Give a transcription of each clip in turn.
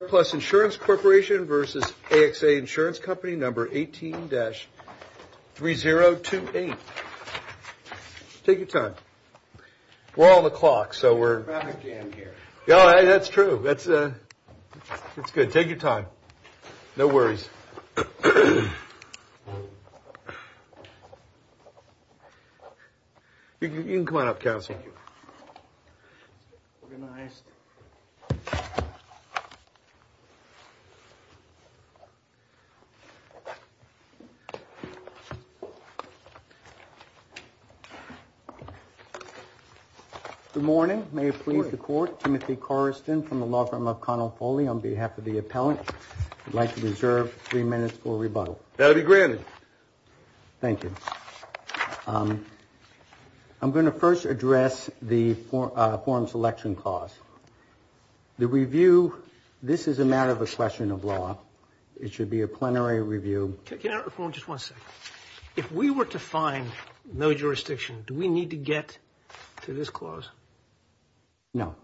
number 18-3028. Take your time. We're on the clock, so we're, that's true. That's good. Take your time. No worries. You can come on up, please. Good morning. May it please the court, Timothy Coriston from the law firm of Conopoly on behalf of the appellant would like to reserve three minutes for rebuttal. That'll be granted. Thank you. I'm going to first address the forum selection clause. The review, this is a matter of a question of law. It should be a plenary review. Just one second. If we were to find no jurisdiction, do we need to get to this clause? No.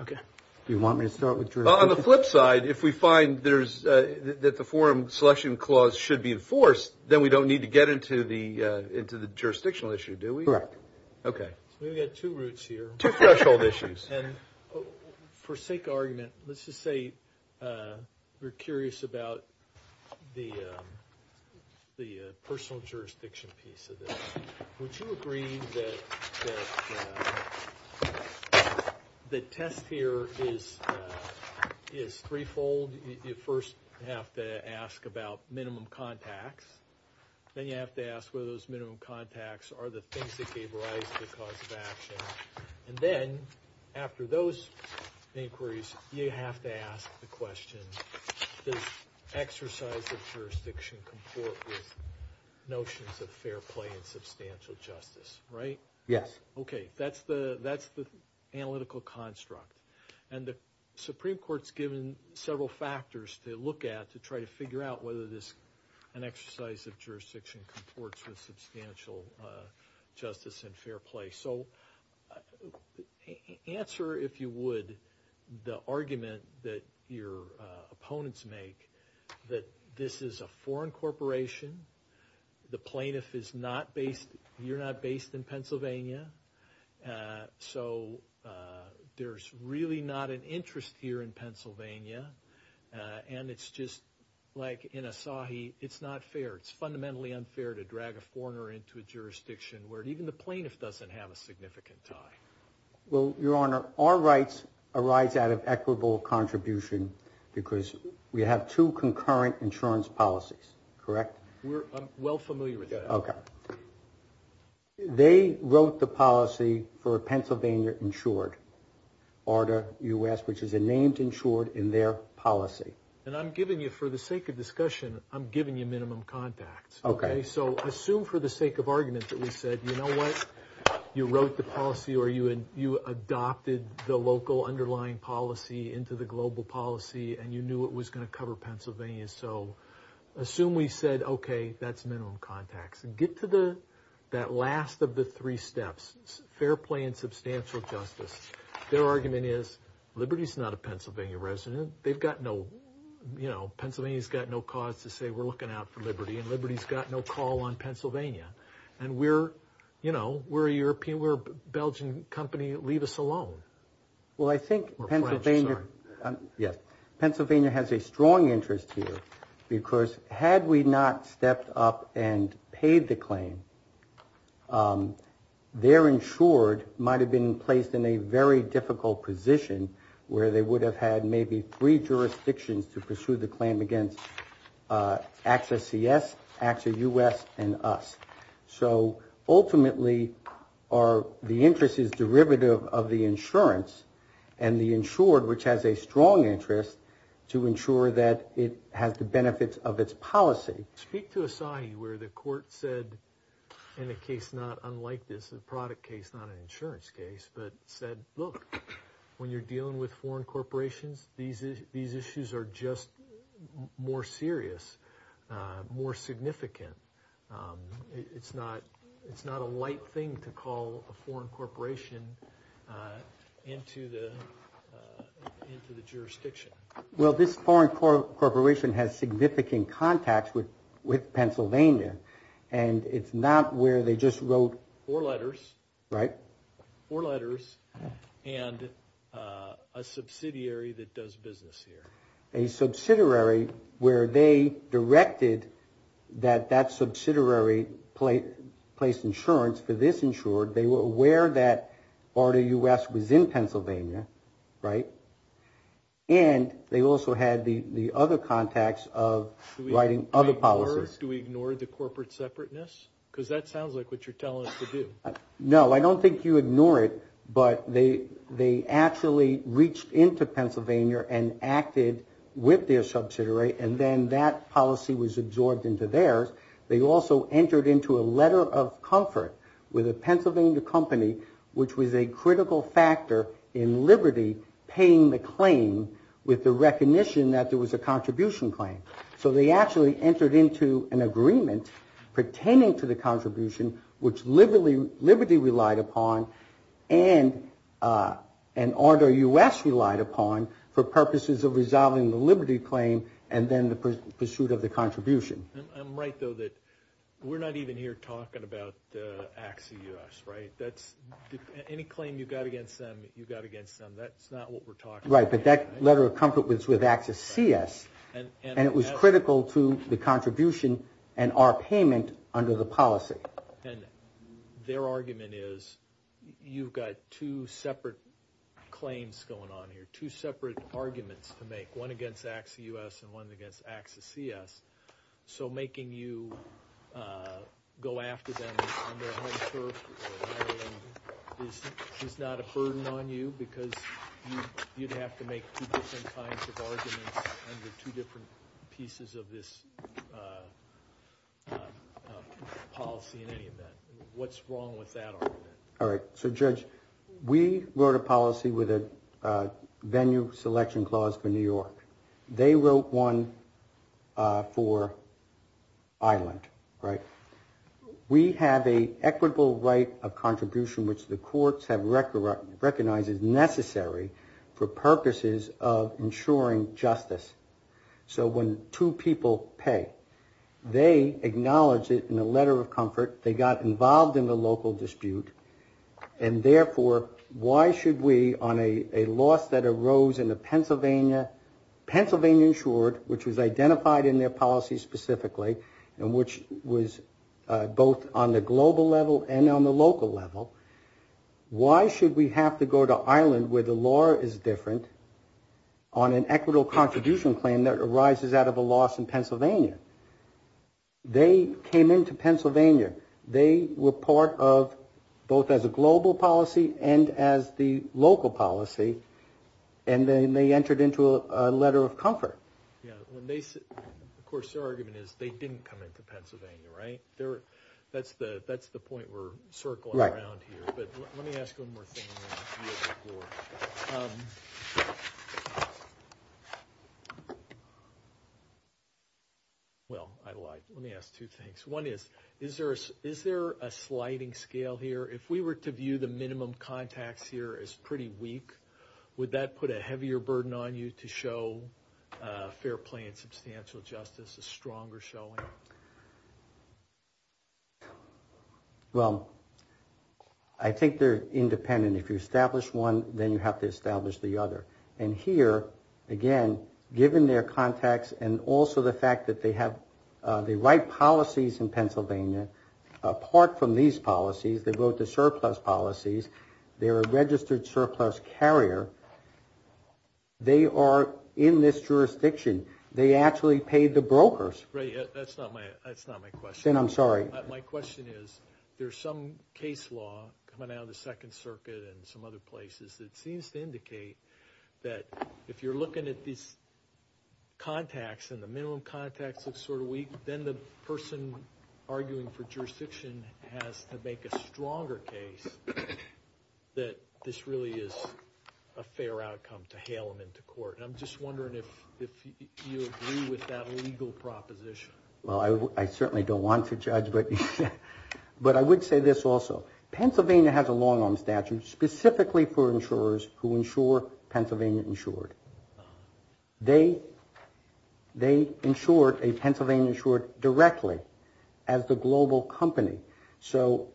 Okay. Do you want me to start with jurisdiction? On the flip side, if we find that the forum selection clause should be enforced, then we don't need to get into the jurisdictional issue, do we? Correct. Okay. We've got two roots here. Two threshold issues. And for sake of argument, let's just say you're curious about the personal jurisdiction piece of this. Would you agree that the test here is three-fold? You first have to ask about minimum contacts. Then you have to ask whether those minimum contacts are the things that gave rise to the cause of action. And then after those inquiries, you have to ask the question, does exercise of jurisdiction comport with notions of fair play and substantial justice, right? Yes. Okay. That's the analytical construct. And the Supreme Court's given several factors to look at to try to figure out whether an exercise of jurisdiction comports with substantial justice and fair play. So answer, if you would, the argument that your opponents make that this is a foreign corporation. The plaintiff is not based, you're not based in Pennsylvania. So there's really not an interest here in Pennsylvania. And it's just like in Asahi, it's not fair. It's fundamentally unfair to drag a foreigner into a jurisdiction where even the plaintiff doesn't have a significant tie. Well, Your Honor, our rights arise out of equitable contribution because we have two concurrent insurance policies. Correct? We're well familiar with that. Okay. They wrote the policy for a Pennsylvania insured order, U.S., which is a named insured in their policy. And I'm giving you, for the sake of discussion, I'm giving you minimum contacts. Okay. So assume for the sake of argument that we said, you know what, you wrote the policy or you adopted the local underlying policy into the global policy and you knew it was going to cover Pennsylvania. So assume we said, okay, that's minimum contacts and get to the that last of the three steps, fair play and substantial justice. Their argument is liberty is not a Pennsylvania resident. They've got no, you know, Pennsylvania's got no cause to say we're looking out for liberty and liberty's got no call on Pennsylvania. And we're, you know, we're a European, we're a Belgian company. Leave us alone. Well, I think Pennsylvania, yes, Pennsylvania has a strong interest here because had we not stepped up and paid the claim, their insured might have been placed in a very difficult position where they would have had maybe three jurisdictions to pursue the claim against AXA CS, AXA U.S. and us. So ultimately, the interest is derivative of the insurance and the insured, which has a strong interest to ensure that it has the benefits of its policy. Speak to a site where the court said in a case not unlike this, a product case, not an insurance case, but said, look, when you're dealing with foreign corporations, these issues are just more serious, more significant. It's not a light thing to call a foreign corporation into the jurisdiction. Well, this foreign corporation has significant contacts with Pennsylvania, and it's not where they just wrote. Four letters. Right. Four letters and a subsidiary that does business here. A subsidiary where they directed that that subsidiary place insurance for this insured. They were aware that part of U.S. was in Pennsylvania. Right. And they also had the other contacts of writing other policies. Do we ignore the corporate separateness? Because that sounds like what you're telling us to do. No, I don't think you ignore it, but they actually reached into Pennsylvania and acted with their subsidiary, and then that policy was absorbed into theirs. They also entered into a letter of comfort with a Pennsylvania company, which was a critical factor in Liberty paying the claim with the recognition that there was a contribution claim. So they actually entered into an agreement pertaining to the contribution, which Liberty relied upon and ARDA U.S. relied upon for purposes of resolving the Liberty claim and then the pursuit of the contribution. I'm right, though, that we're not even here talking about AXA U.S., right? Any claim you've got against them, you've got against them. That's not what we're talking about. Right, but that letter of comfort was with AXA CS. And it was critical to the contribution and our payment under the policy. And their argument is you've got two separate claims going on here, two separate arguments to make, one against AXA U.S. and one against AXA CS. So making you go after them on their home turf is not a burden on you because you'd have to make two different kinds of arguments under two different pieces of this policy in any event. What's wrong with that argument? All right. So, Judge, we wrote a policy with a venue selection clause for New York. They wrote one for Ireland, right? We have an equitable right of contribution, which the courts have recognized is necessary for purposes of ensuring justice. So when two people pay, they acknowledge it in a letter of comfort. They got involved in the local dispute. And therefore, why should we, on a loss that arose in the Pennsylvania, Pennsylvania insured, which was identified in their policy specifically, and which was both on the global level and on the local level, why should we have to go to Ireland where the law is different on an equitable contribution claim that arises out of a loss in Pennsylvania? They came into Pennsylvania. They were part of both as a global policy and as the local policy, and then they entered into a letter of comfort. Yeah. Of course, their argument is they didn't come into Pennsylvania, right? That's the point we're circling around here. Right. But let me ask one more thing. Well, I lied. Let me ask two things. One is, is there a sliding scale here? If we were to view the minimum contacts here as pretty weak, would that put a heavier burden on you to show fair play and substantial justice, a stronger showing? Well, I think they're independent. If you establish one, then you have to establish the other. And here, again, given their contacts and also the fact that they have the right policies in Pennsylvania, apart from these policies, they go to surplus policies, they're a registered surplus carrier, they are in this jurisdiction. They actually paid the brokers. Right. That's not my question. Then I'm sorry. My question is there's some case law coming out of the Second Circuit and some other places that seems to indicate that if you're looking at these contacts, and the minimum contacts looks sort of weak, then the person arguing for jurisdiction has to make a stronger case that this really is a fair outcome to hail them into court. And I'm just wondering if you agree with that legal proposition. Well, I certainly don't want to judge, but I would say this also. Pennsylvania has a long-arm statute specifically for insurers who insure Pennsylvania Insured. They insured a Pennsylvania Insured directly as the global company. So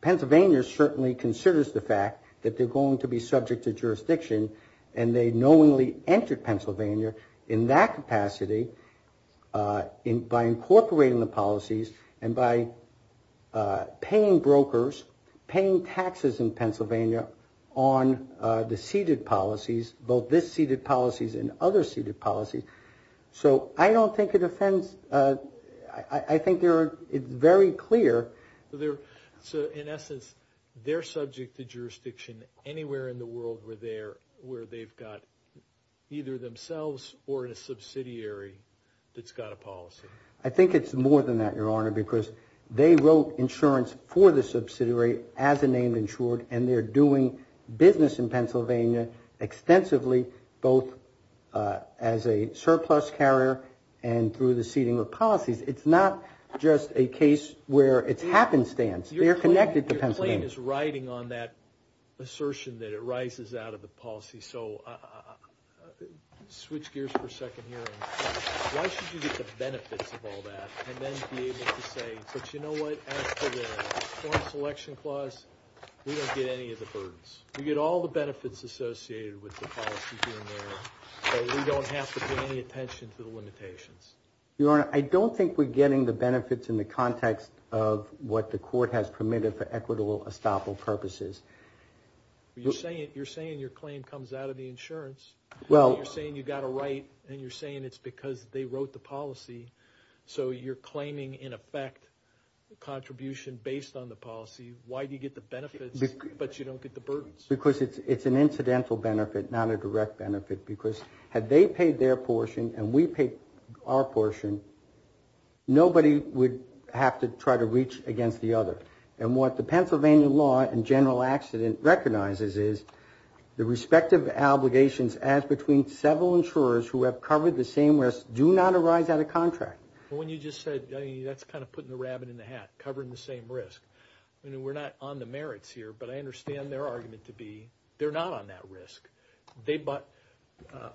Pennsylvania certainly considers the fact that they're going to be subject to jurisdiction and they knowingly entered Pennsylvania in that capacity by incorporating the policies and by paying brokers, paying taxes in Pennsylvania on the ceded policies, both this ceded policies and other ceded policies. So I don't think it offends. I think it's very clear. So in essence, they're subject to jurisdiction anywhere in the world where they've got either themselves or in a subsidiary that's got a policy. I think it's more than that, Your Honor, because they wrote insurance for the subsidiary as a named insured and they're doing business in Pennsylvania extensively, both as a surplus carrier and through the ceding of policies. It's not just a case where it's happenstance. They're connected to Pennsylvania. Your claim is riding on that assertion that it rises out of the policy. So switch gears for a second here. Why should you get the benefits of all that and then be able to say, but you know what, as for the foreign selection clause, we don't get any of the burdens. We get all the benefits associated with the policy here and there, but we don't have to pay any attention to the limitations. Your Honor, I don't think we're getting the benefits in the context of what the court has permitted for equitable estoppel purposes. You're saying your claim comes out of the insurance. You're saying you got a right and you're saying it's because they wrote the policy. So you're claiming, in effect, a contribution based on the policy. Why do you get the benefits but you don't get the burdens? Because it's an incidental benefit, not a direct benefit, because had they paid their portion and we paid our portion, nobody would have to try to reach against the other. And what the Pennsylvania law and general accident recognizes is the respective obligations as between several insurers who have covered the same risk do not arise out of contract. When you just said, that's kind of putting the rabbit in the hat, covering the same risk. We're not on the merits here, but I understand their argument to be they're not on that risk.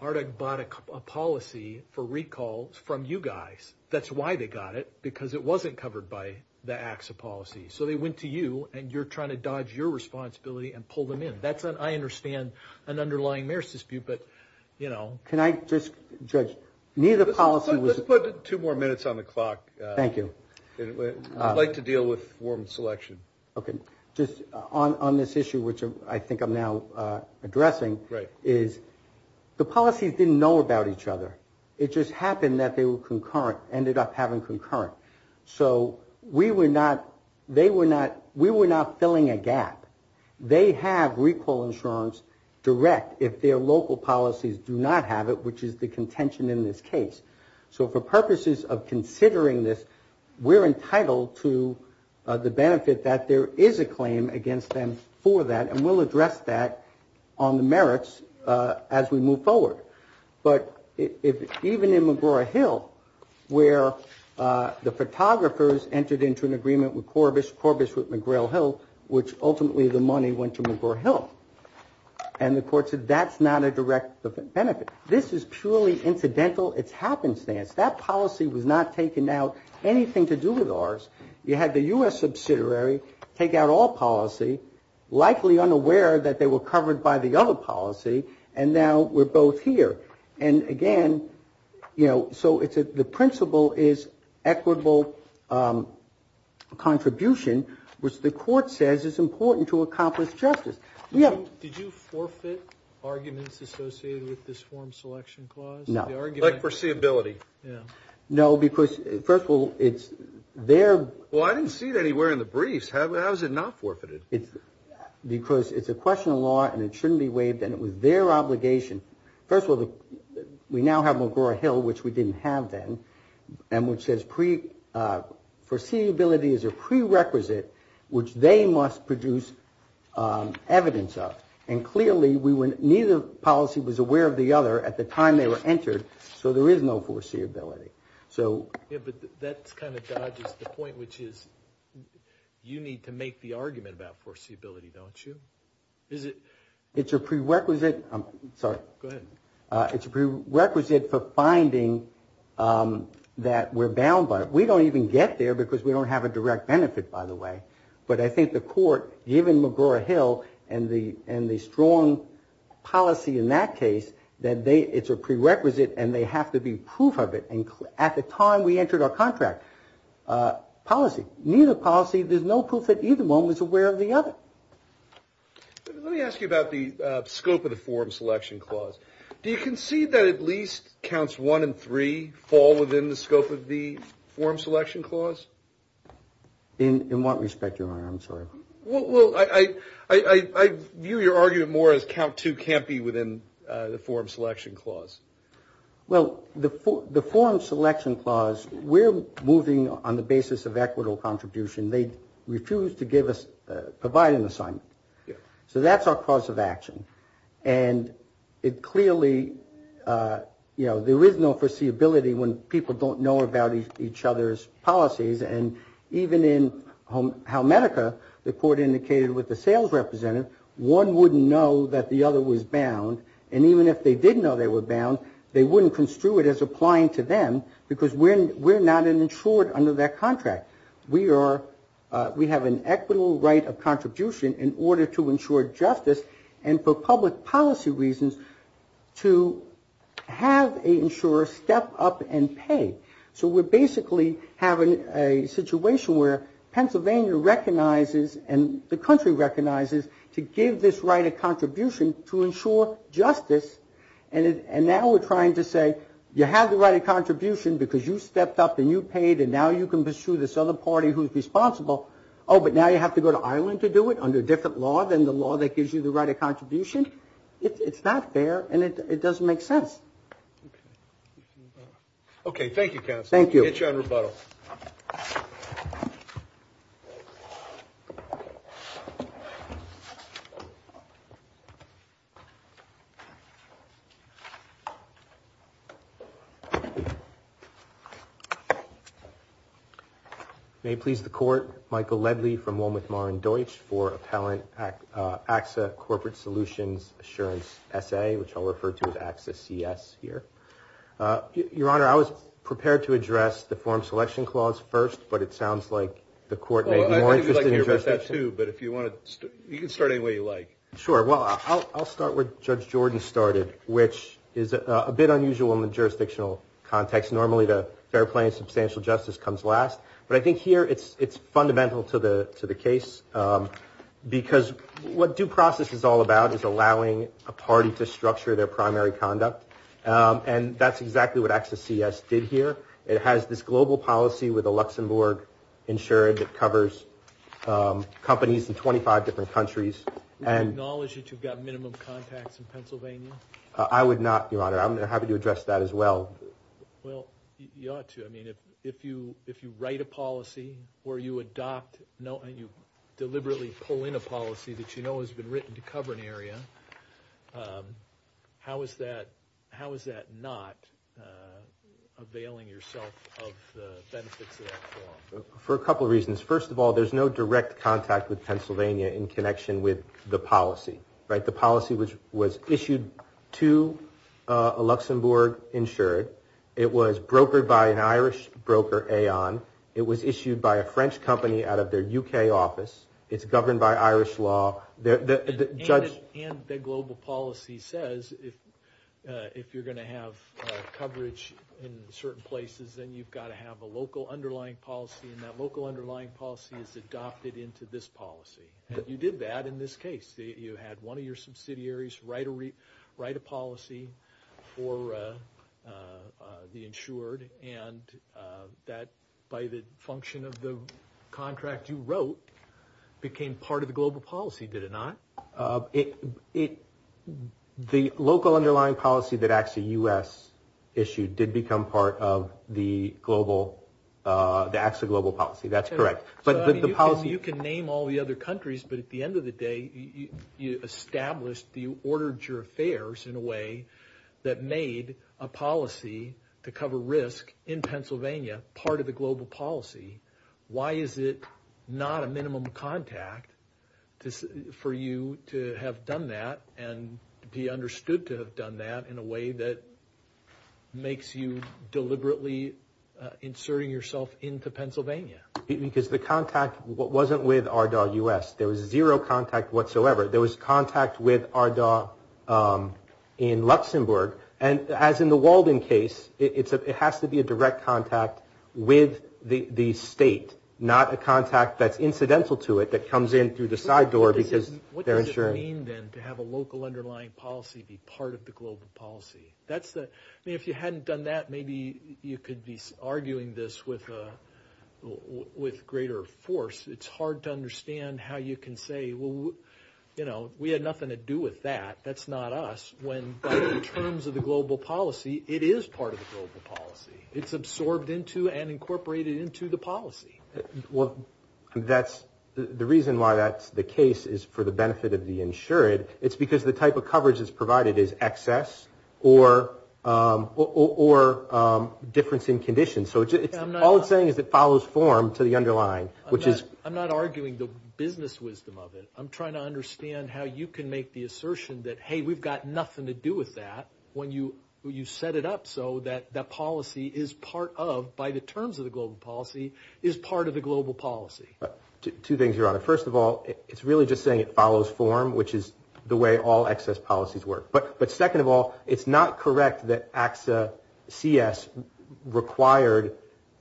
ARDAC bought a policy for recall from you guys. That's why they got it, because it wasn't covered by the ACSA policy. So they went to you and you're trying to dodge your responsibility and pull them in. I understand an underlying merits dispute, but, you know. Can I just, Judge, neither policy was- Let's put two more minutes on the clock. Thank you. I'd like to deal with form selection. Okay. Just on this issue, which I think I'm now addressing, is the policies didn't know about each other. It just happened that they were concurrent, ended up having concurrent. So we were not, they were not, we were not filling a gap. They have recall insurance direct if their local policies do not have it, which is the contention in this case. So for purposes of considering this, we're entitled to the benefit that there is a claim against them for that, and we'll address that on the merits as we move forward. But even in McGraw Hill, where the photographers entered into an agreement with Corbis, Corbis with McGrail Hill, which ultimately the money went to McGraw Hill, and the court said that's not a direct benefit. This is purely incidental. It's happenstance. That policy was not taking out anything to do with ours. You had the U.S. subsidiary take out all policy, likely unaware that they were covered by the other policy, and now we're both here. And, again, you know, so it's the principle is equitable contribution, which the court says is important to accomplish justice. Did you forfeit arguments associated with this form selection clause? No. Like foreseeability. No, because, first of all, it's their. Well, I didn't see it anywhere in the briefs. How is it not forfeited? Because it's a question of law, and it shouldn't be waived, and it was their obligation. First of all, we now have McGraw Hill, which we didn't have then, and which says foreseeability is a prerequisite which they must produce evidence of. And, clearly, neither policy was aware of the other at the time they were entered, so there is no foreseeability. Yeah, but that kind of dodges the point, which is you need to make the argument about foreseeability, don't you? Is it? It's a prerequisite. I'm sorry. Go ahead. It's a prerequisite for finding that we're bound by it. We don't even get there because we don't have a direct benefit, by the way. But I think the court, given McGraw Hill and the strong policy in that case, that it's a prerequisite and they have to be proof of it at the time we entered our contract. Policy. Neither policy, there's no proof that either one was aware of the other. Let me ask you about the scope of the forum selection clause. Do you concede that at least counts one and three fall within the scope of the forum selection clause? In what respect, Your Honor? I'm sorry. Well, I view your argument more as count two can't be within the forum selection clause. Well, the forum selection clause, we're moving on the basis of equitable contribution. They refuse to give us, provide an assignment. So that's our cause of action. And it clearly, you know, there is no foreseeability when people don't know about each other's policies. And even in Halmedica, the court indicated with the sales representative, one wouldn't know that the other was bound. And even if they did know they were bound, they wouldn't construe it as applying to them because we're not insured under that contract. We have an equitable right of contribution in order to ensure justice and for public policy reasons to have an insurer step up and pay. So we're basically having a situation where Pennsylvania recognizes and the country recognizes to give this right of contribution to ensure justice. And now we're trying to say you have the right of contribution because you stepped up and you paid and now you can pursue this other party who's responsible. Oh, but now you have to go to Ireland to do it under a different law than the law that gives you the right of contribution. It's not fair and it doesn't make sense. Okay. Okay. Thank you, counsel. Thank you. Get you on rebuttal. May it please the court. Michael Ledley from Walmart Mar & Deutsch for appellant ACSA corporate solutions assurance essay, which I'll refer to as ACSA CS here. Your Honor, I was prepared to address the form selection clause first, but it sounds like the court may be more interested in addressing it. I think you'd like to address that too, but you can start any way you like. Sure. Well, I'll start where Judge Jordan started, which is a bit unusual in the jurisdictional context. Normally the fair play and substantial justice comes last, but I think here it's fundamental to the case because what due process is all about is allowing a party to structure their primary conduct. And that's exactly what ACSA CS did here. It has this global policy with Luxembourg insured that covers companies in 25 different countries. Would you acknowledge that you've got minimum contacts in Pennsylvania? I would not, Your Honor. I'm happy to address that as well. Well, you ought to. I mean, if you write a policy where you adopt, and you deliberately pull in a policy that you know has been written to cover an area, how is that not availing yourself of the benefits of that law? For a couple of reasons. First of all, there's no direct contact with Pennsylvania in connection with the policy. The policy was issued to a Luxembourg insured. It was issued by a French company out of their U.K. office. It's governed by Irish law. And the global policy says if you're going to have coverage in certain places, then you've got to have a local underlying policy, and that local underlying policy is adopted into this policy. And you did that in this case. You had one of your subsidiaries write a policy for the insured, and that, by the function of the contract you wrote, became part of the global policy, did it not? The local underlying policy that actually U.S. issued did become part of the global, the actual global policy. That's correct. So, I mean, you can name all the other countries, but at the end of the day, you established, you ordered your affairs in a way that made a policy to cover risk in Pennsylvania part of the global policy. Why is it not a minimum contact for you to have done that and be understood to have done that in a way that makes you deliberately inserting yourself into Pennsylvania? Because the contact wasn't with ARDAW U.S. There was zero contact whatsoever. There was contact with ARDAW in Luxembourg. And as in the Walden case, it has to be a direct contact with the state, not a contact that's incidental to it that comes in through the side door because they're insured. What does it mean, then, to have a local underlying policy be part of the global policy? I mean, if you hadn't done that, maybe you could be arguing this with greater force. It's hard to understand how you can say, well, you know, we had nothing to do with that. That's not us, when in terms of the global policy, it is part of the global policy. It's absorbed into and incorporated into the policy. Well, that's the reason why that's the case is for the benefit of the insured. It's because the type of coverage that's provided is excess or difference in condition. So all it's saying is it follows form to the underlying. I'm not arguing the business wisdom of it. I'm trying to understand how you can make the assertion that, hey, we've got nothing to do with that when you set it up so that that policy is part of, by the terms of the global policy, is part of the global policy. Two things, Your Honor. First of all, it's really just saying it follows form, which is the way all excess policies work. But second of all, it's not correct that AXA CS required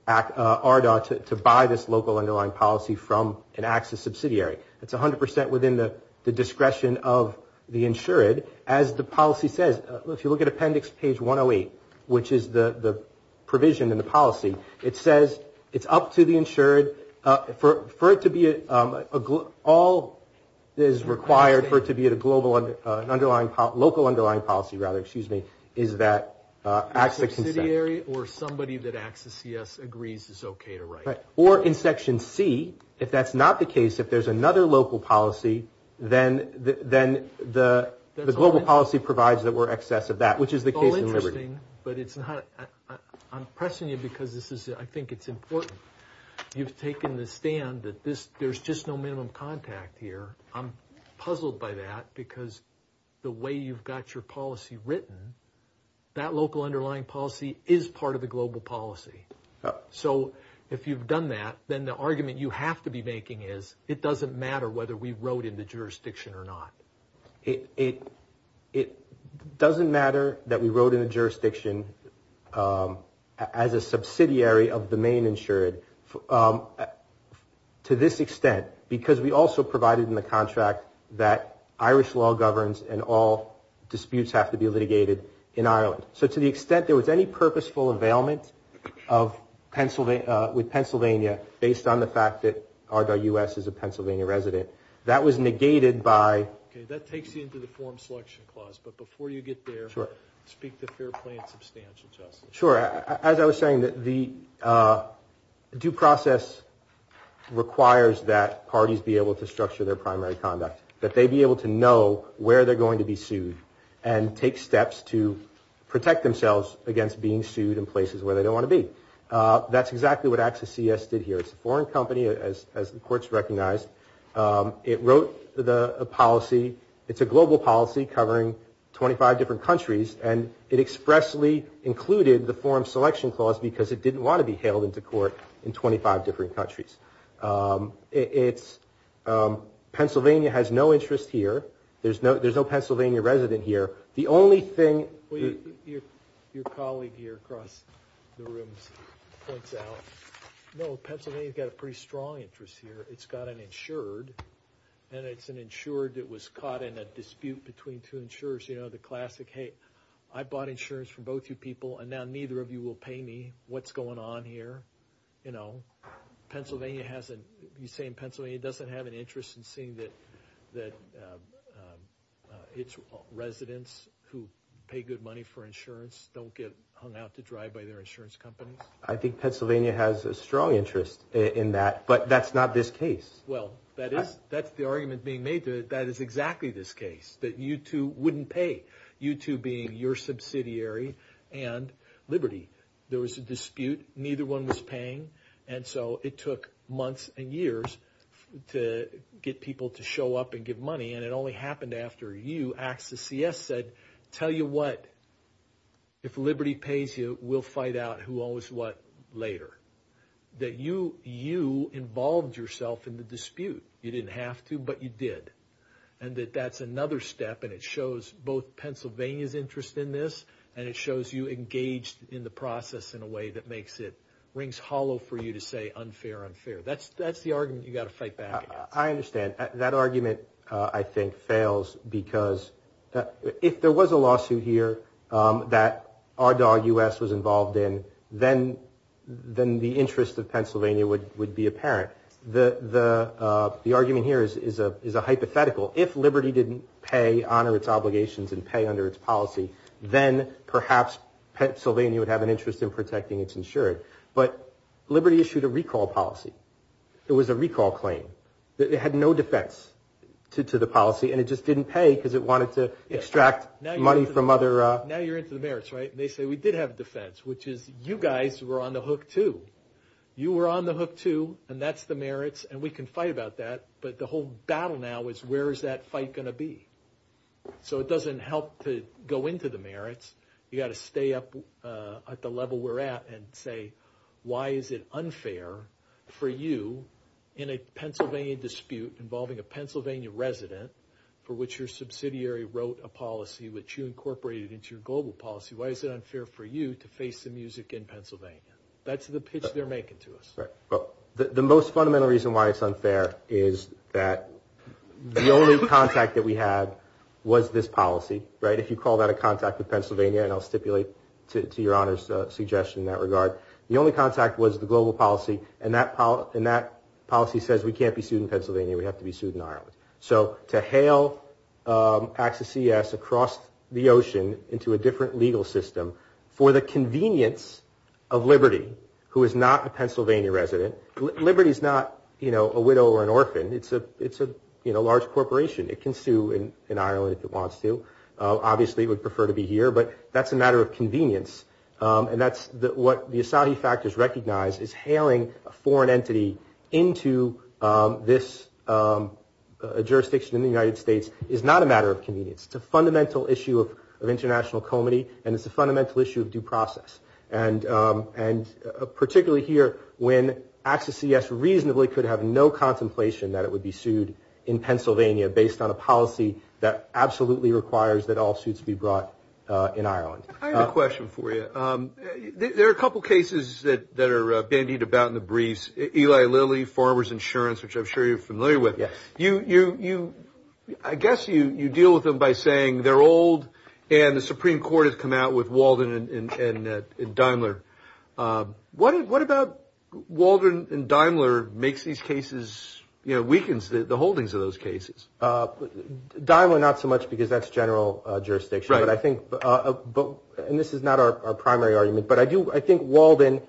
ARDA to buy this local underlying policy from an AXA subsidiary. It's 100 percent within the discretion of the insured. As the policy says, if you look at appendix page 108, which is the provision in the policy, it says it's up to the insured for it to be a – all that is required for it to be a global – an underlying – local underlying policy, rather, excuse me, is that AXA can set. A subsidiary or somebody that AXA CS agrees is okay to write. Right. Or in section C, if that's not the case, if there's another local policy, then the global policy provides that we're excess of that, which is the case in liberty. But it's not – I'm pressing you because this is – I think it's important. You've taken the stand that this – there's just no minimum contact here. I'm puzzled by that because the way you've got your policy written, that local underlying policy is part of the global policy. So if you've done that, then the argument you have to be making is it doesn't matter whether we wrote in the jurisdiction or not. It doesn't matter that we wrote in the jurisdiction as a subsidiary of the main insured to this extent because we also provided in the contract that Irish law governs and all disputes have to be litigated in Ireland. So to the extent there was any purposeful availment of – with Pennsylvania based on the fact that RWS is a Pennsylvania resident, that was negated by – Okay, that takes you into the form selection clause. But before you get there, speak to fair play and substantial justice. Sure. As I was saying, the due process requires that parties be able to structure their primary conduct, that they be able to know where they're going to be sued and take steps to protect themselves against being sued in places where they don't want to be. That's exactly what Access CS did here. It's a foreign company, as the courts recognized. It wrote the policy. It's a global policy covering 25 different countries, and it expressly included the form selection clause because it didn't want to be hailed into court in 25 different countries. It's – Pennsylvania has no interest here. There's no Pennsylvania resident here. Well, your colleague here across the room points out, no, Pennsylvania's got a pretty strong interest here. It's got an insured, and it's an insured that was caught in a dispute between two insurers. You know, the classic, hey, I bought insurance from both you people, and now neither of you will pay me. What's going on here? You know, Pennsylvania hasn't – you're saying Pennsylvania doesn't have an interest in seeing that its residents who pay good money for insurance don't get hung out to dry by their insurance companies? I think Pennsylvania has a strong interest in that, but that's not this case. Well, that is – that's the argument being made to it. That is exactly this case, that you two wouldn't pay, you two being your subsidiary and Liberty. There was a dispute. Neither one was paying, and so it took months and years to get people to show up and give money, and it only happened after you asked – the CS said, tell you what, if Liberty pays you, we'll find out who owes what later. That you involved yourself in the dispute. You didn't have to, but you did, and that that's another step, and it shows both Pennsylvania's interest in this, and it shows you engaged in the process in a way that makes it – rings hollow for you to say unfair, unfair. That's the argument you've got to fight back against. I understand. That argument, I think, fails because if there was a lawsuit here that our dog, U.S., was involved in, then the interest of Pennsylvania would be apparent. The argument here is a hypothetical. If Liberty didn't pay, honor its obligations, and pay under its policy, then perhaps Pennsylvania would have an interest in protecting its insured. But Liberty issued a recall policy. It was a recall claim. It had no defense to the policy, and it just didn't pay because it wanted to extract money from other – Now you're into the merits, right? They say we did have a defense, which is you guys were on the hook too. You were on the hook too, and that's the merits, and we can fight about that, but the whole battle now is where is that fight going to be? So it doesn't help to go into the merits. You've got to stay up at the level we're at and say, why is it unfair for you in a Pennsylvania dispute involving a Pennsylvania resident for which your subsidiary wrote a policy which you incorporated into your global policy, why is it unfair for you to face the music in Pennsylvania? That's the pitch they're making to us. Right. Well, the most fundamental reason why it's unfair is that the only contact that we had was this policy, right? If you call that a contact with Pennsylvania, and I'll stipulate to your Honor's suggestion in that regard, the only contact was the global policy, and that policy says we can't be sued in Pennsylvania. We have to be sued in Ireland. So to hail AXA-CS across the ocean into a different legal system for the convenience of Liberty, who is not a Pennsylvania resident. Liberty is not a widow or an orphan. It's a large corporation. It can sue in Ireland if it wants to. Obviously, it would prefer to be here, but that's a matter of convenience, and that's what the Asahi factors recognize is hailing a foreign entity into this jurisdiction in the United States is not a matter of convenience. It's a fundamental issue of international comity, and it's a fundamental issue of due process, and particularly here when AXA-CS reasonably could have no contemplation that it would be sued in Pennsylvania based on a policy that absolutely requires that all suits be brought in Ireland. I have a question for you. There are a couple cases that are bandied about in the briefs. Eli Lilly, Farmers Insurance, which I'm sure you're familiar with. Yes. I guess you deal with them by saying they're old, and the Supreme Court has come out with Walden and Daimler. What about Walden and Daimler makes these cases, you know, weakens the holdings of those cases? Daimler, not so much because that's general jurisdiction. Right. And this is not our primary argument, but I think Walden,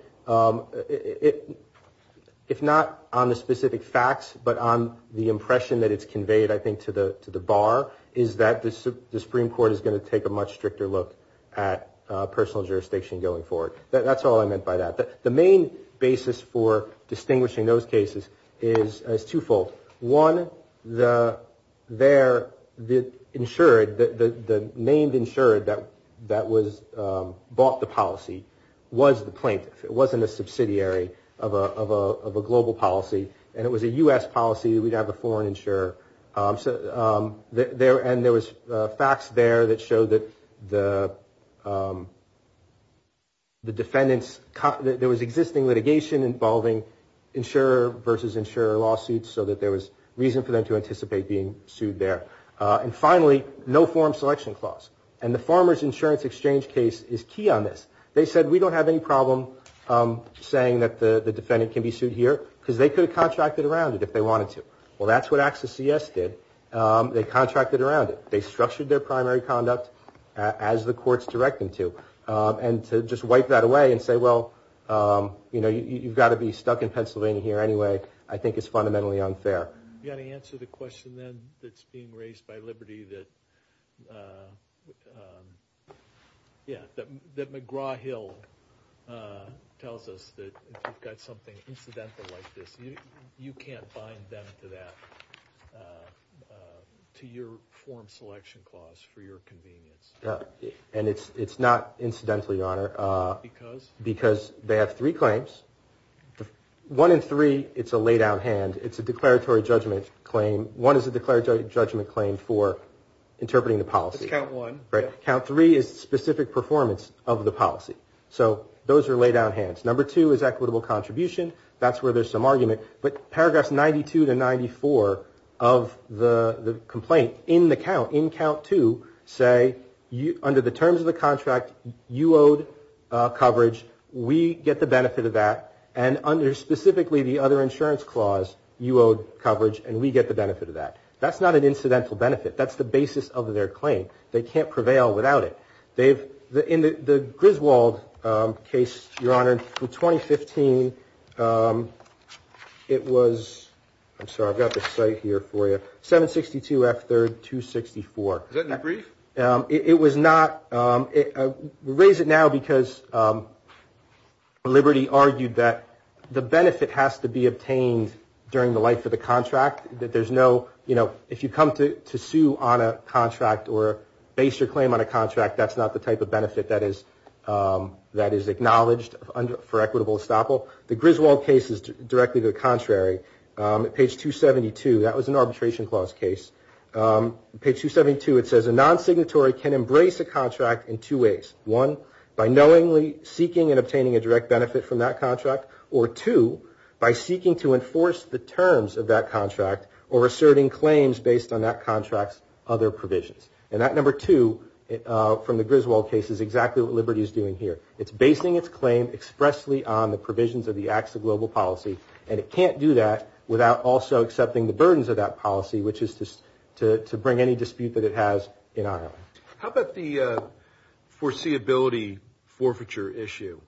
if not on the specific facts, but on the impression that it's conveyed, I think, to the bar, is that the Supreme Court is going to take a much stricter look at personal jurisdiction going forward. That's all I meant by that. The main basis for distinguishing those cases is twofold. One, the insured, the named insured that bought the policy was the plaintiff. It wasn't a subsidiary of a global policy, and it was a U.S. policy. We'd have a foreign insurer. And there was facts there that showed that the defendants, there was existing litigation involving insurer versus insurer lawsuits so that there was reason for them to anticipate being sued there. And finally, no forum selection clause. And the Farmers Insurance Exchange case is key on this. They said, we don't have any problem saying that the defendant can be sued here because they could have contracted around it if they wanted to. Well, that's what Access CS did. They contracted around it. They structured their primary conduct as the courts direct them to, and to just wipe that away and say, well, you know, you've got to be stuck in Pennsylvania here anyway, I think is fundamentally unfair. You've got to answer the question then that's being raised by Liberty that, yeah, that McGraw-Hill tells us that if you've got something incidental like this, you can't bind them to that, to your forum selection clause for your convenience. And it's not incidental, Your Honor. Because? Because they have three claims. One and three, it's a laydown hand. It's a declaratory judgment claim. One is a declaratory judgment claim for interpreting the policy. That's count one. Right. Count three is specific performance of the policy. So those are laydown hands. Number two is equitable contribution. That's where there's some argument. But paragraphs 92 to 94 of the complaint in the count, in count two, say, under the terms of the contract, you owed coverage. We get the benefit of that. And under specifically the other insurance clause, you owed coverage, and we get the benefit of that. That's not an incidental benefit. That's the basis of their claim. They can't prevail without it. In the Griswold case, Your Honor, from 2015, it was 762F3264. Is that in the brief? It was not. We raise it now because Liberty argued that the benefit has to be obtained during the life of the contract, that there's no, you know, if you come to sue on a contract or base your claim on a contract, that's not the type of benefit that is acknowledged for equitable estoppel. The Griswold case is directly the contrary. At page 272, that was an arbitration clause case. Page 272, it says a non-signatory can embrace a contract in two ways. One, by knowingly seeking and obtaining a direct benefit from that contract. Or two, by seeking to enforce the terms of that contract or asserting claims based on that contract's other provisions. And that number two from the Griswold case is exactly what Liberty is doing here. It's basing its claim expressly on the provisions of the Acts of Global Policy, and it can't do that without also accepting the burdens of that policy, which is to bring any dispute that it has in Ireland. How about the foreseeability forfeiture issue?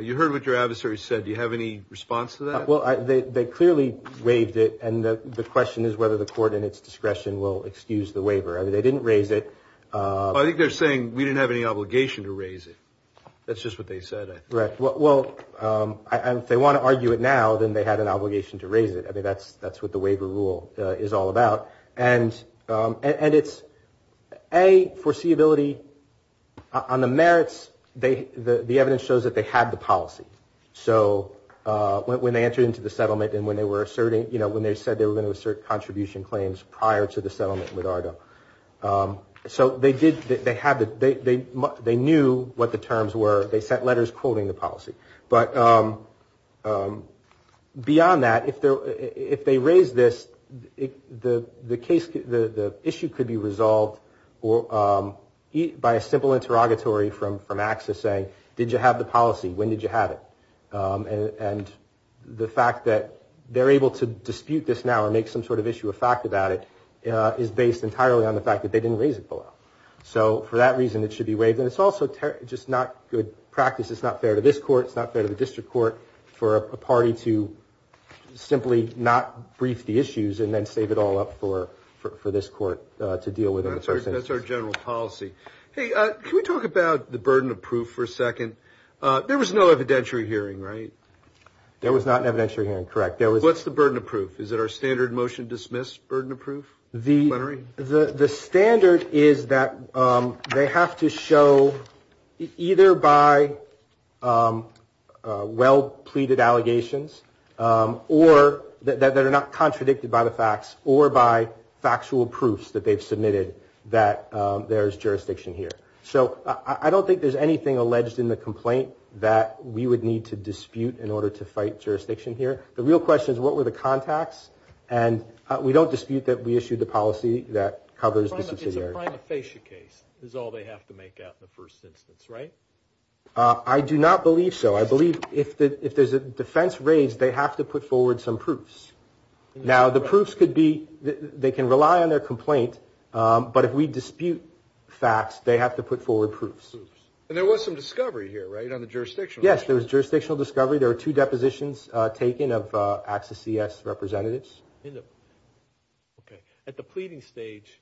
You heard what your adversary said. Do you have any response to that? Well, they clearly waived it, and the question is whether the court in its discretion will excuse the waiver. I mean, they didn't raise it. I think they're saying we didn't have any obligation to raise it. That's just what they said, I think. Right. Well, if they want to argue it now, then they had an obligation to raise it. I mean, that's what the waiver rule is all about. And it's, A, foreseeability. On the merits, the evidence shows that they had the policy. So when they entered into the settlement and when they said they were going to assert contribution claims prior to the settlement with Argo. So they knew what the terms were. They sent letters quoting the policy. But beyond that, if they raise this, the issue could be resolved by a simple interrogatory from AXA saying, did you have the policy? When did you have it? And the fact that they're able to dispute this now or make some sort of issue of fact about it is based entirely on the fact that they didn't raise it below. So for that reason, it should be waived. And it's also just not good practice. It's not fair to this court. It's not fair to the district court for a party to simply not brief the issues and then save it all up for this court to deal with. That's our general policy. Hey, can we talk about the burden of proof for a second? There was no evidentiary hearing, right? There was not an evidentiary hearing, correct. What's the burden of proof? Is it our standard motion dismiss burden of proof? The standard is that they have to show either by well-pleaded allegations or that are not contradicted by the facts or by factual proofs that they've submitted that there's jurisdiction here. So I don't think there's anything alleged in the complaint that we would need to dispute in order to fight jurisdiction here. The real question is what were the contacts? And we don't dispute that we issued the policy that covers the subsidiary. It's a prima facie case is all they have to make out in the first instance, right? I do not believe so. I believe if there's a defense raised, they have to put forward some proofs. Now, the proofs could be they can rely on their complaint, but if we dispute facts, they have to put forward proofs. And there was some discovery here, right, on the jurisdictional issue? Yes, there was jurisdictional discovery. There were two depositions taken of AXA CS representatives. At the pleading stage,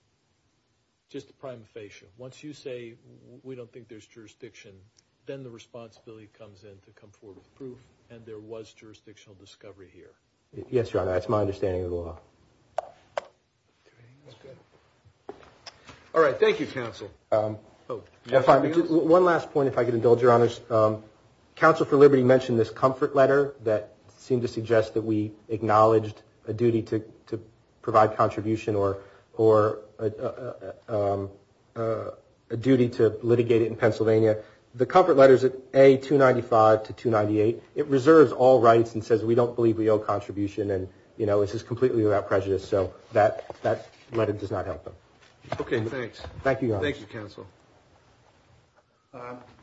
just a prima facie, once you say we don't think there's jurisdiction, then the responsibility comes in to come forward with proof, and there was jurisdictional discovery here. Yes, Your Honor. That's my understanding of the law. All right. Thank you, counsel. One last point, if I could indulge, Your Honors. Counsel for Liberty mentioned this comfort letter that seemed to suggest that we acknowledged a duty to provide contribution or a duty to litigate it in Pennsylvania. The comfort letter is A-295 to 298. It reserves all rights and says we don't believe we owe contribution, and, you know, this is completely without prejudice. So that letter does not help them. Okay, thanks. Thank you, Your Honor. Thank you, counsel.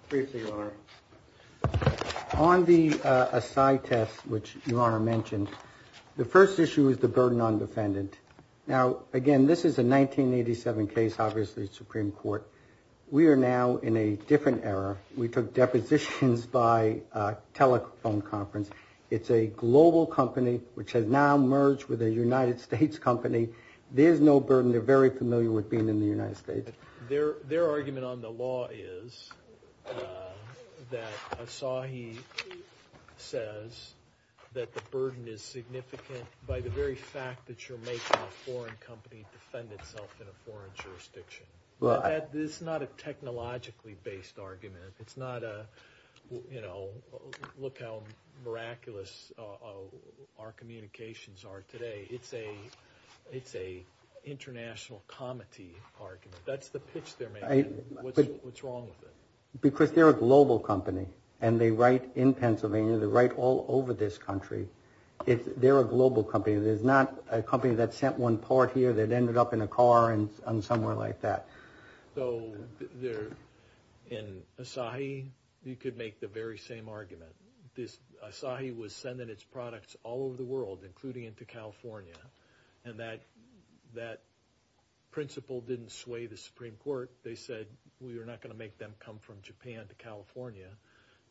Briefly, Your Honor, on the aside test, which Your Honor mentioned, the first issue is the burden on defendant. Now, again, this is a 1987 case, obviously, Supreme Court. We are now in a different era. We took depositions by telephone conference. It's a global company which has now merged with a United States company. There's no burden. They're very familiar with being in the United States. Their argument on the law is that Asahi says that the burden is significant by the very fact that you're making a foreign company defend itself in a foreign jurisdiction. This is not a technologically-based argument. It's not a, you know, look how miraculous our communications are today. It's an international comity argument. That's the pitch they're making. What's wrong with it? Because they're a global company, and they write in Pennsylvania. They write all over this country. They're a global company. There's not a company that sent one port here that ended up in a car and somewhere like that. So in Asahi, you could make the very same argument. Asahi was sending its products all over the world, including into California, and that principle didn't sway the Supreme Court. They said we are not going to make them come from Japan to California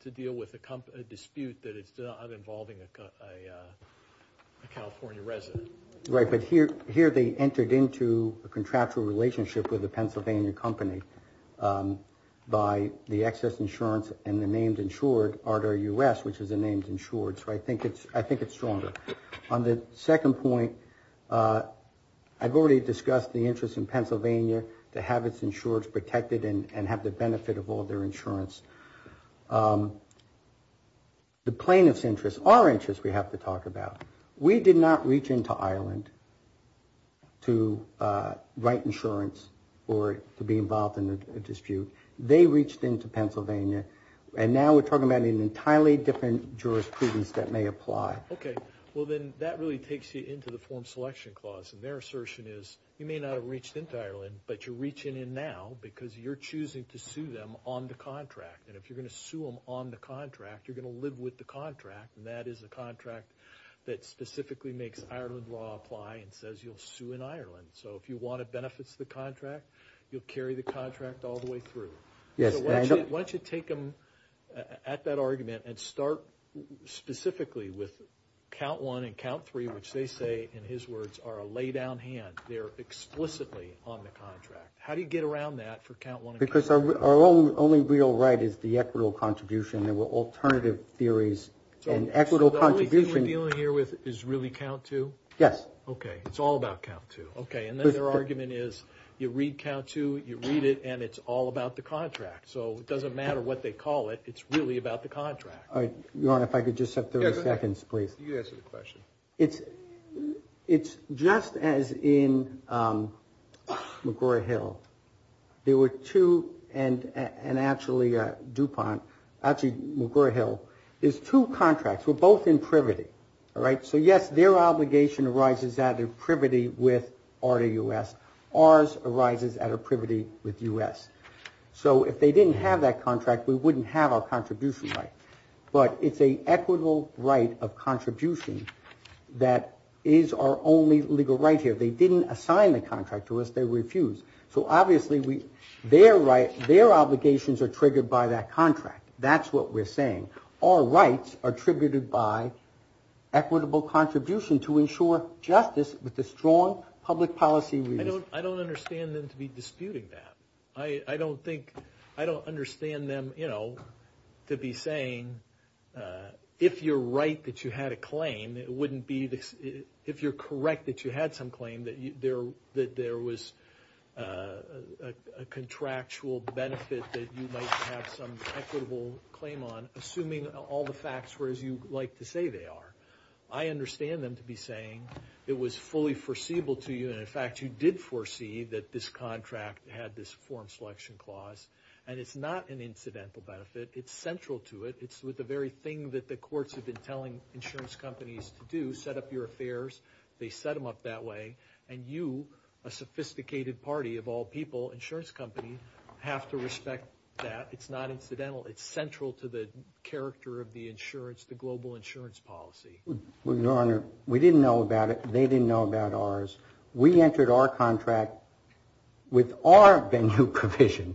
to deal with a dispute that is not involving a California resident. Right, but here they entered into a contractual relationship with a Pennsylvania company by the excess insurance and the named insured, ARDER-US, which is a named insured. So I think it's stronger. On the second point, I've already discussed the interest in Pennsylvania to have its insureds protected and have the benefit of all their insurance. The plaintiff's interests are interests we have to talk about. We did not reach into Ireland to write insurance or to be involved in a dispute. They reached into Pennsylvania, and now we're talking about an entirely different jurisprudence that may apply. Okay, well, then that really takes you into the Form Selection Clause, and their assertion is you may not have reached into Ireland, but you're reaching in now because you're choosing to sue them on the contract. And if you're going to sue them on the contract, you're going to live with the contract, and that is a contract that specifically makes Ireland law apply and says you'll sue in Ireland. So if you want to benefit the contract, you'll carry the contract all the way through. Why don't you take them at that argument and start specifically with count one and count three, which they say, in his words, are a laydown hand. They're explicitly on the contract. How do you get around that for count one and count three? Because our only real right is the equitable contribution. There were alternative theories. So the only thing we're dealing here with is really count two? Yes. Okay, it's all about count two. Okay, and then their argument is you read count two, you read it, and it's all about the contract. So it doesn't matter what they call it. It's really about the contract. Your Honor, if I could just have 30 seconds, please. You can answer the question. It's just as in McGraw-Hill. There were two, and actually DuPont, actually McGraw-Hill, there's two contracts. We're both in privity, all right? So, yes, their obligation arises out of privity with R to U.S. Ours arises out of privity with U.S. So if they didn't have that contract, we wouldn't have our contribution right. But it's an equitable right of contribution that is our only legal right here. They didn't assign the contract to us. They refused. So, obviously, their obligations are triggered by that contract. That's what we're saying. Our rights are triggered by equitable contribution to ensure justice with the strong public policy reasons. I don't understand them to be disputing that. I don't think – I don't understand them, you know, to be saying, if you're right that you had a claim, it wouldn't be – if you're correct that you had some claim, that there was a contractual benefit that you might have some equitable claim on, assuming all the facts were as you like to say they are. I understand them to be saying it was fully foreseeable to you, and, in fact, you did foresee that this contract had this form selection clause. And it's not an incidental benefit. It's central to it. It's with the very thing that the courts have been telling insurance companies to do, set up your affairs. They set them up that way. And you, a sophisticated party of all people, insurance company, have to respect that. It's not incidental. It's central to the character of the insurance, the global insurance policy. Your Honor, we didn't know about it. They didn't know about ours. We entered our contract with our venue provision,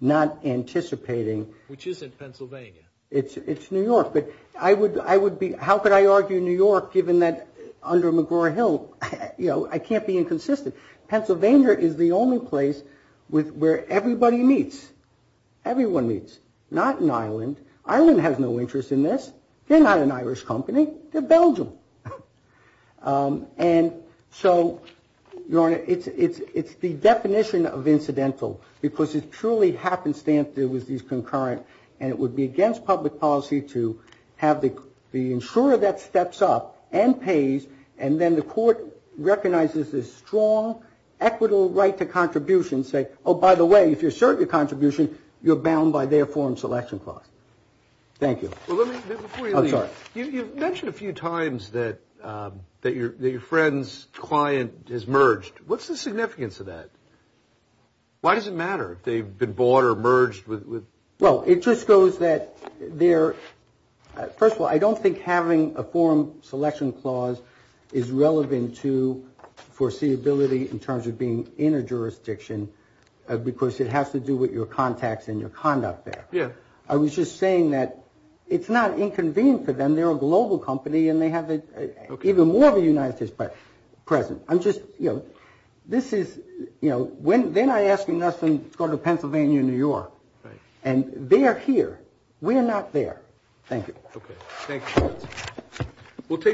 not anticipating. Which is in Pennsylvania. It's New York. But I would be – how could I argue New York, given that under McGraw-Hill, you know, I can't be inconsistent. Pennsylvania is the only place where everybody meets. Everyone meets. Not in Ireland. Ireland has no interest in this. They're not an Irish company. They're Belgium. And so, Your Honor, it's the definition of incidental, because it's purely happenstance there with these concurrent. And it would be against public policy to have the insurer that steps up and pays, and then the court recognizes this strong, equitable right to contribution, say, oh, by the way, if you assert your contribution, you're bound by their foreign selection clause. Thank you. I'm sorry. You've mentioned a few times that your friend's client has merged. What's the significance of that? Why does it matter if they've been bought or merged? Well, it just goes that they're – first of all, I don't think having a foreign selection clause is relevant to foreseeability in terms of being in a jurisdiction, because it has to do with your contacts and your conduct there. I was just saying that it's not inconvenient for them. They're a global company, and they have even more of a United States presence. I'm just – you know, this is – you know, they're not asking us to go to Pennsylvania or New York. And they are here. We are not there. Thank you. Okay. Thank you. We'll take questions.